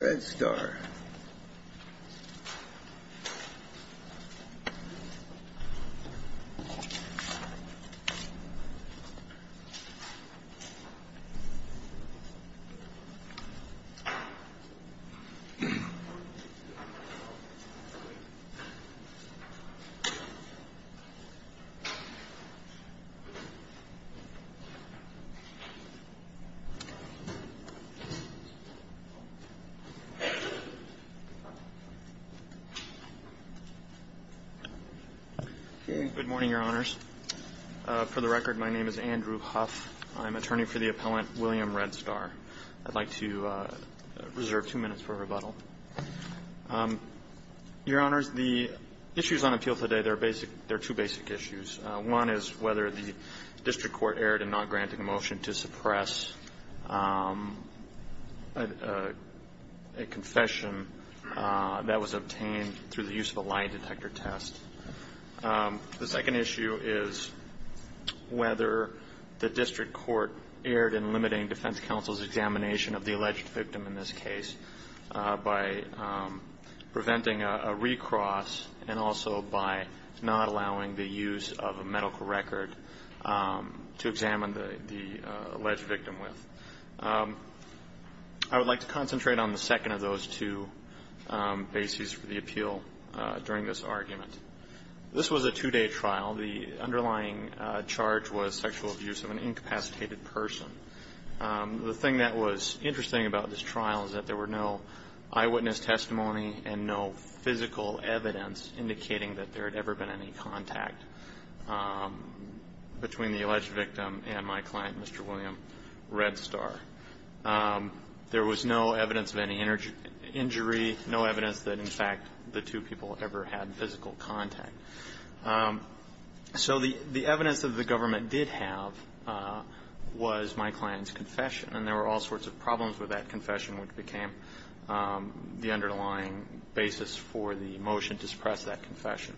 Red Star Good morning, Your Honors. For the record, my name is Andrew Huff. I'm an attorney for the appellant, William Red Star. I'd like to reserve two minutes for rebuttal. Your Honors, the issues on appeal today, they're basic – they're two basic issues. One is whether the district court erred in not granting a motion to suppress a confession that was obtained through the use of a lie detector test. The second issue is whether the district court erred in limiting defense counsel's examination of the alleged victim in this case by preventing a recross and also by not allowing the use of a medical record to examine the alleged victim with. I would like to concentrate on the second of those two bases for the appeal during this argument. This was a two-day trial. The underlying charge was sexual abuse of an incapacitated person. The thing that was interesting about this trial is that there were no eyewitness testimony and no physical evidence indicating that there had ever been any contact between the alleged victim and my client, Mr. William Red Star. There was no evidence of any injury, no evidence that, in fact, the two people ever had physical contact. So the evidence that the government did have was my client's confession. And there were all sorts of problems with that confession, which became the underlying basis for the motion to suppress that confession.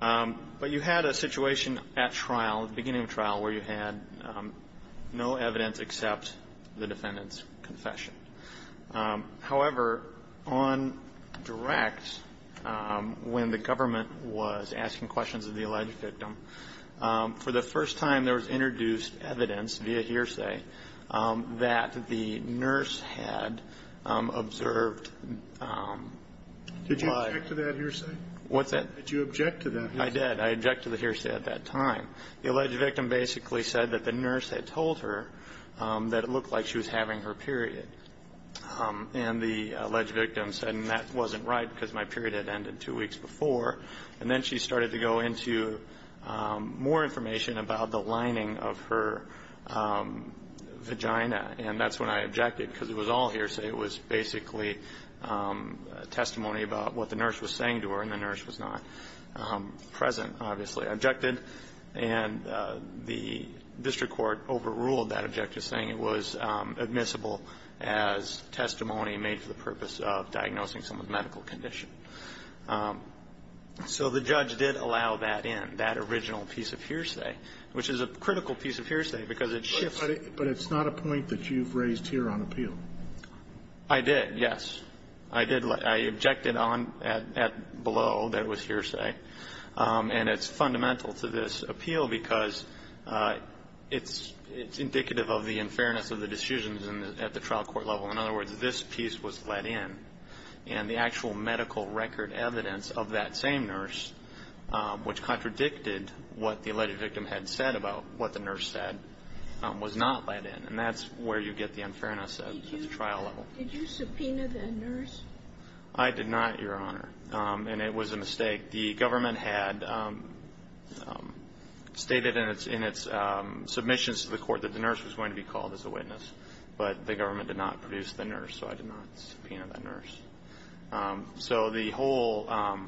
But you had a situation at trial, at the beginning of trial, where you had no evidence except the defendant's confession. However, on direct, when the government was asking questions of the alleged victim, for the first time there was introduced evidence via hearsay that the nurse had observed by the defendant. Did you object to that hearsay? What's that? Did you object to that hearsay? I did. I objected to the hearsay at that time. The alleged victim basically said that the nurse had told her that it looked like she was having her period. And the alleged victim said, and that wasn't right because my period had ended two weeks prior to the beginning of her vagina. And that's when I objected, because it was all hearsay. It was basically testimony about what the nurse was saying to her, and the nurse was not present, obviously. I objected, and the district court overruled that objective, saying it was admissible as testimony made for the purpose of diagnosing someone's medical condition. So the judge did allow that in, that original piece of hearsay, which is a critical piece of hearsay, because it shifts. But it's not a point that you've raised here on appeal. I did, yes. I did. I objected on, at, below, that it was hearsay. And it's fundamental to this appeal, because it's indicative of the unfairness of the decisions at the trial court level. In other words, this piece was let in, and the actual medical record evidence of that same nurse, which contradicted what the alleged victim had said about what the nurse said, was not let in. And that's where you get the unfairness at the trial level. Did you subpoena the nurse? I did not, Your Honor. And it was a mistake. The government had stated in its submissions to the court that the nurse was going to be called as a witness, but the government did not produce the nurse, so I did not subpoena the nurse. So the whole of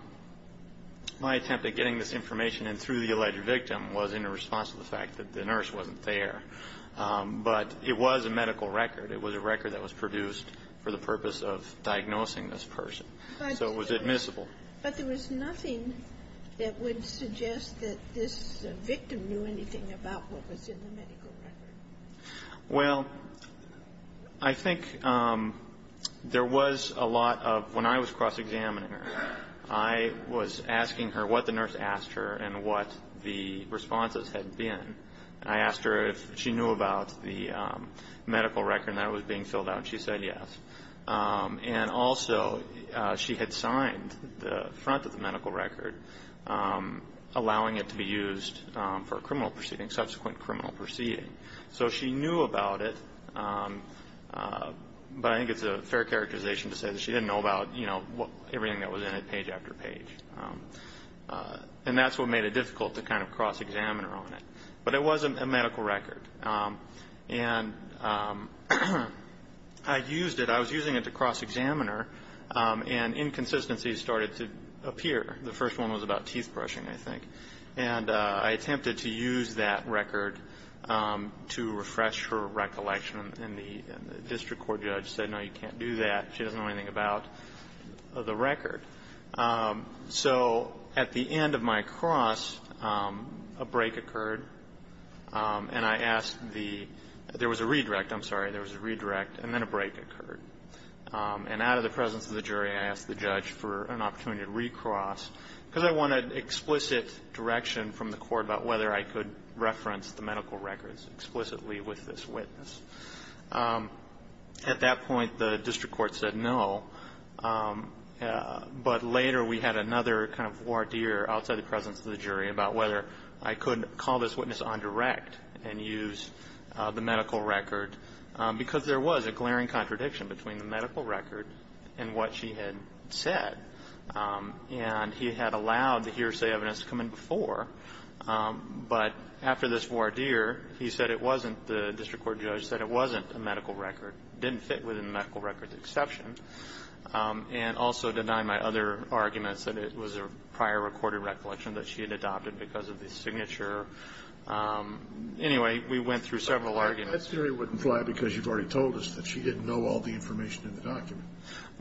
my attempt at getting this information in through the alleged victim was in response to the fact that the nurse wasn't there. But it was a medical record. It was a record that was produced for the purpose of diagnosing this person. So it was admissible. But there was nothing that would suggest that this victim knew anything about what was in the medical record. Well, I think there was a lot of when I was cross-examining her, I was asking her what the nurse asked her and what the responses had been. I asked her if she knew about the medical record that was being filled out, and she said yes. And also, she had signed the front of the medical record, allowing it to be used for criminal proceedings, subsequent criminal proceedings. So she knew about it, but I think it's a fair characterization to say that she didn't know about, you know, everything that was in it page after page. And that's what made it difficult to kind of cross-examine her on it. But it was a medical record, and I used it. I was using it to cross-examine her, and inconsistencies started to appear. The first one was about teeth brushing, I think. And I attempted to use that record to refresh her recollection. And the district court judge said, no, you can't do that. She doesn't know anything about the record. So at the end of my cross, a break occurred, and I asked the, there was a redirect. I'm sorry, there was a redirect, and then a break occurred. And out of the presence of the jury, I asked the judge for an opportunity to recross, because I wanted explicit direction from the court about whether I could reference the medical records explicitly with this witness. At that point, the district court said no. But later, we had another kind of voir dire outside the presence of the jury about whether I could call this witness on direct and use the medical record, because there was a glaring contradiction between the medical record and what she had said. And he had allowed the hearsay evidence to come in before. But after this voir dire, he said it wasn't, the district court judge said it wasn't a medical record, didn't fit within the medical record's exception. And also denied my other arguments that it was a prior recorded recollection that she had adopted because of the signature. Anyway, we went through several arguments. That theory wouldn't fly because you've already told us that she didn't know all the information in the document.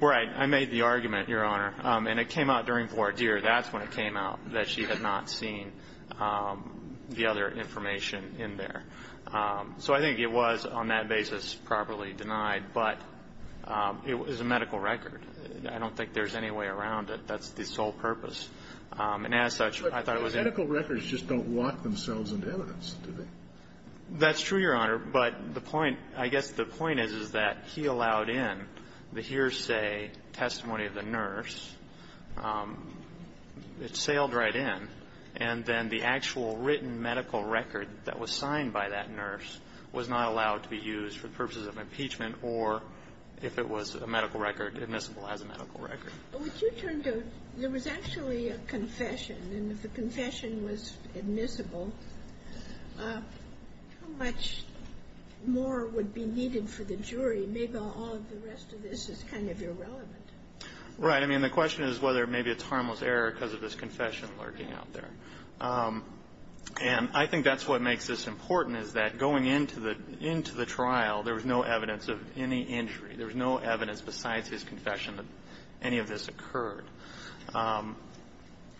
Right. I made the argument, Your Honor, and it came out during voir dire. That's when it came out, that she had not seen the other information in there. So I think it was, on that basis, properly denied. But it was a medical record. I don't think there's any way around it. That's the sole purpose. And as such, I thought it was a- But medical records just don't lock themselves into evidence, do they? That's true, Your Honor. But the point, I guess the point is, is that he allowed in the hearsay testimony of the nurse. It sailed right in. And then the actual written medical record that was signed by that nurse was not allowed to be used for purposes of impeachment or if it was a medical record, admissible as a medical record. But would you turn to, there was actually a confession. And if the confession was admissible, how much more would be needed for the jury? Maybe all of the rest of this is kind of irrelevant. Right. I mean, the question is whether maybe it's harmless error because of this confession lurking out there. And I think that's what makes this important, is that going into the trial, there was no evidence of any injury. There was no evidence besides his confession that any of this occurred.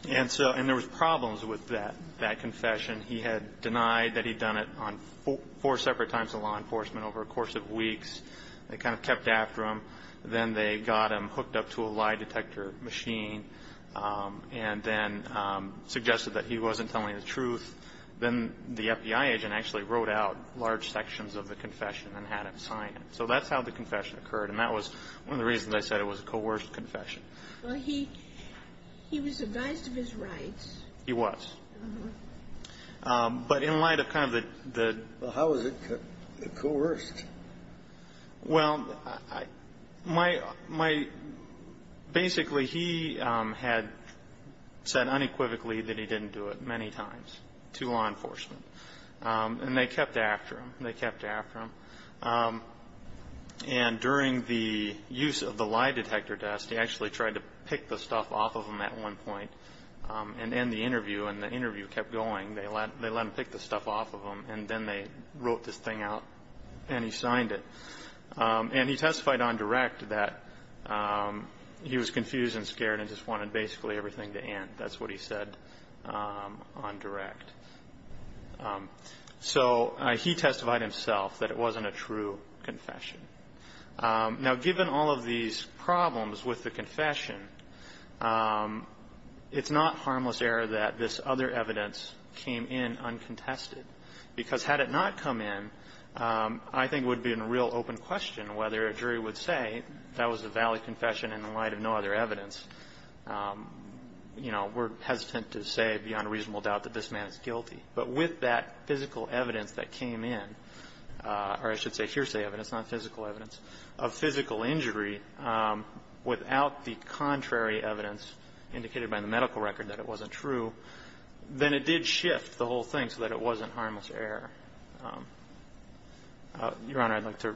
And so, and there was problems with that confession. He had denied that he'd done it on four separate times in law enforcement over a course of weeks. They kind of kept after him. Then they got him hooked up to a lie detector machine and then suggested that he wasn't telling the truth. Then the FBI agent actually wrote out large sections of the confession and had him sign it. So that's how the confession occurred. And that was one of the reasons I said it was a coerced confession. Well, he was advised of his rights. He was. But in light of kind of the- Well, how was it coerced? Well, basically, he had said unequivocally that he didn't do it many times to law enforcement, and they kept after him. They kept after him. And during the use of the lie detector desk, he actually tried to pick the stuff off of them at one point and end the interview. And the interview kept going. They let him pick the stuff off of them. And then they wrote this thing out, and he signed it. And he testified on direct that he was confused and scared and just wanted basically everything to end. That's what he said on direct. So he testified himself that it wasn't a true confession. Now, given all of these problems with the confession, it's not harmless error that this other evidence came in uncontested. Because had it not come in, I think it would have been a real open question whether a jury would say that was a valid confession in light of no other evidence. You know, we're hesitant to say beyond a reasonable doubt that this man is guilty. But with that physical evidence that came in, or I should say hearsay evidence, not physical evidence, of physical injury, without the contrary evidence indicated by the medical record that it wasn't true, then it did shift the whole thing so that it wasn't harmless error. Your Honor, I'd like to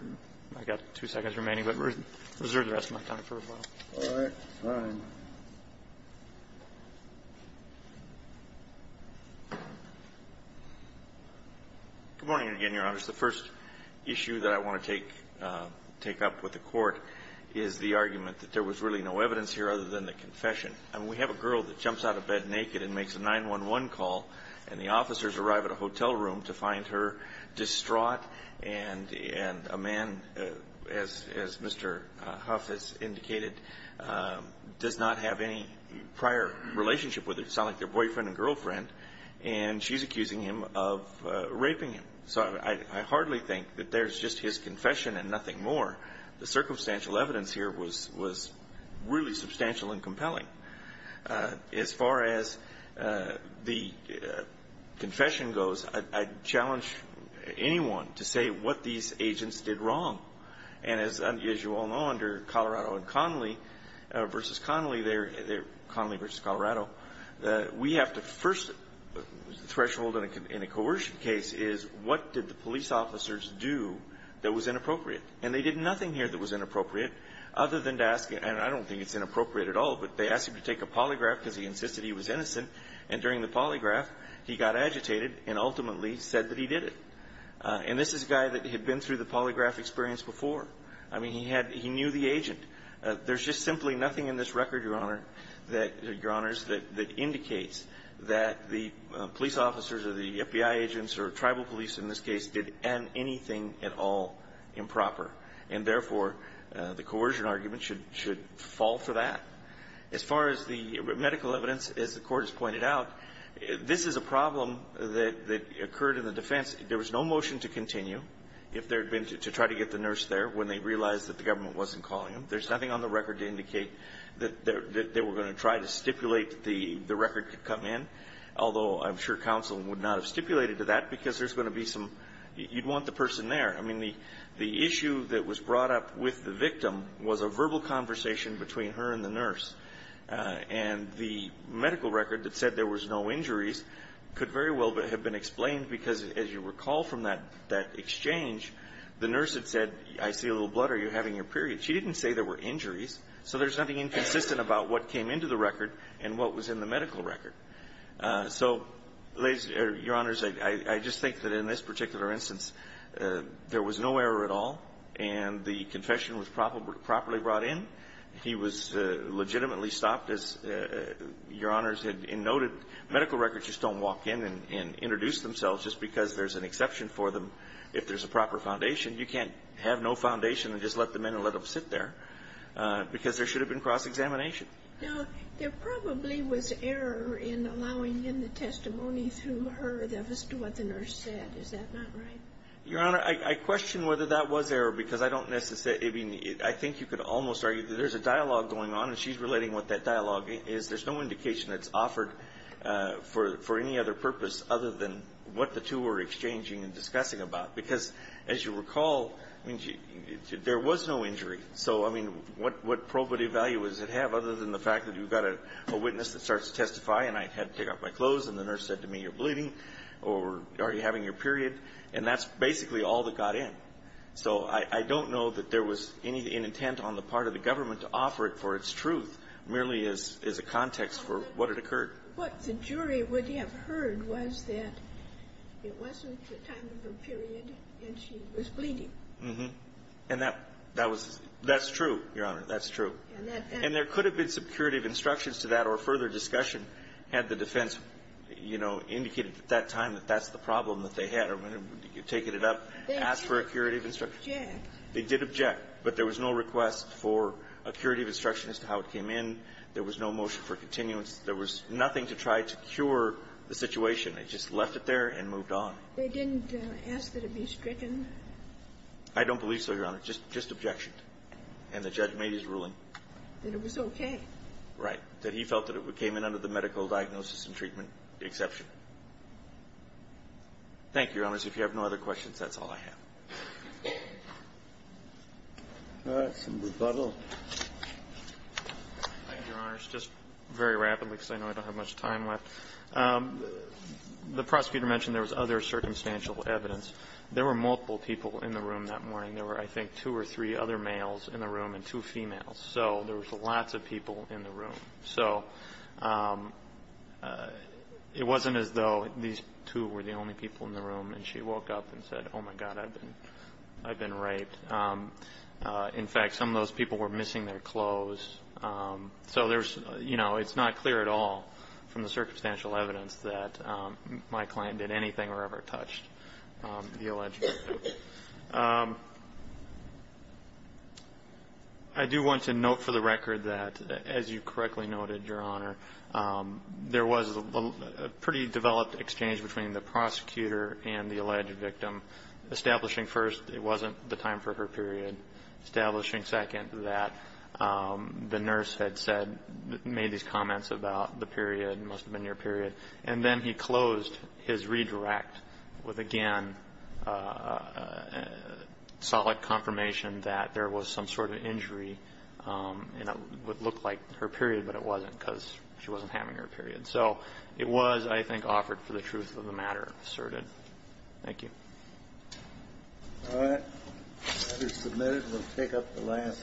reserve the rest of my time for a moment. All right. Fine. Good morning again, Your Honor. The first issue that I want to take up with the Court is the argument that there was really no evidence here other than the confession. And we have a girl that jumps out of bed naked and makes a 911 call, and the officers arrive at a hotel room to find her distraught, and a man, as Mr. Huff has indicated, does not have any prior relationship with her. It sounded like their boyfriend and girlfriend. And she's accusing him of raping him. So I hardly think that there's just his confession and nothing more. The circumstantial evidence here was really substantial and compelling. As far as the confession goes, I'd challenge anyone to say what these agents did wrong. And as you all know, under Connolly v. Colorado, we have the first threshold in a coercion case is, what did the police officers do that was inappropriate? And they did nothing here that was inappropriate other than to ask, and I don't think it's inappropriate at all, but they asked him to take a polygraph because he insisted he was innocent. And during the polygraph, he got agitated and ultimately said that he did it. And this is a guy that had been through the polygraph experience before. I mean, he knew the agent. There's just simply nothing in this record, Your Honor, that indicates that the police officers or the FBI agents or tribal police in this case did anything at all improper. And therefore, the coercion argument should fall for that. As far as the medical evidence, as the Court has pointed out, this is a problem that occurred in the defense. There was no motion to continue if there had been to try to get the nurse there when they realized that the government wasn't calling them. There's nothing on the record to indicate that they were going to try to stipulate the record to come in, although I'm sure counsel would not have stipulated to that because there's going to be some, you'd want the person there. I mean, the issue that was brought up with the victim was a verbal conversation between her and the nurse. And the medical record that said there was no injuries could very well have been explained because, as you recall from that exchange, the nurse had said, I see a little blood. Are you having your period? She didn't say there were injuries. So there's nothing inconsistent about what came into the record and what was in the medical record. So, ladies, Your Honors, I just think that in this particular instance, there was no error at all, and the confession was properly brought in. He was legitimately stopped, as Your Honors had noted. Medical records just don't walk in and introduce themselves just because there's an exception for them. If there's a proper foundation, you can't have no foundation and just let them in and let them sit there because there should have been cross-examination. Now, there probably was error in allowing him the testimony through her that was what the nurse said. Is that not right? Your Honor, I question whether that was error because I don't necessarily, I mean, I think you could almost argue that there's a dialogue going on, and she's relating what that dialogue is. There's no indication that's offered for any other purpose other than what the two were exchanging and discussing about because, as you recall, there was no injury. So, I mean, what probative value does it have other than the fact that you've got a witness that starts to testify, and I had to take off my clothes, and the nurse said to me, you're bleeding, or are you having your period? And that's basically all that got in. So I don't know that there was any intent on the part of the government to offer it for its truth merely as a context for what had occurred. What the jury would have heard was that it wasn't the time of her period, and she was bleeding. Mm-hmm. And that was true, Your Honor. That's true. And there could have been some curative instructions to that or further discussion had the defense, you know, indicated at that time that that's the problem that they had or would have taken it up, asked for a curative instruction. They did object. But there was no request for a curative instruction as to how it came in. There was no motion for continuance. There was nothing to try to cure the situation. They just left it there and moved on. They didn't ask that it be stricken? I don't believe so, Your Honor. Just objection. And the judge made his ruling. That it was okay. Right. That he felt that it came in under the medical diagnosis and treatment exception. Thank you, Your Honor. If you have no other questions, that's all I have. All right. Some rebuttal. Thank you, Your Honor. Just very rapidly, because I know I don't have much time left. The prosecutor mentioned there was other circumstantial evidence. There were multiple people in the room that morning. There were, I think, two or three other males in the room and two females. So there was lots of people in the room. So it wasn't as though these two were the only people in the room. And she woke up and said, oh, my God, I've been raped. In fact, some of those people were missing their clothes. So it's not clear at all from the circumstantial evidence that my client did anything or ever touched the alleged victim. I do want to note for the record that, as you correctly noted, Your Honor, there was a pretty developed exchange between the prosecutor and the alleged victim, establishing first it wasn't the time for her period, establishing second that the nurse had said, made these comments about the period, must have been your period. And then he closed his redirect with, again, solid confirmation that there was some sort of injury. And it would look like her period, but it wasn't because she wasn't having her period. So it was, I think, offered for the truth of the matter asserted. Thank you. All right, the matter is submitted. We'll take up the last.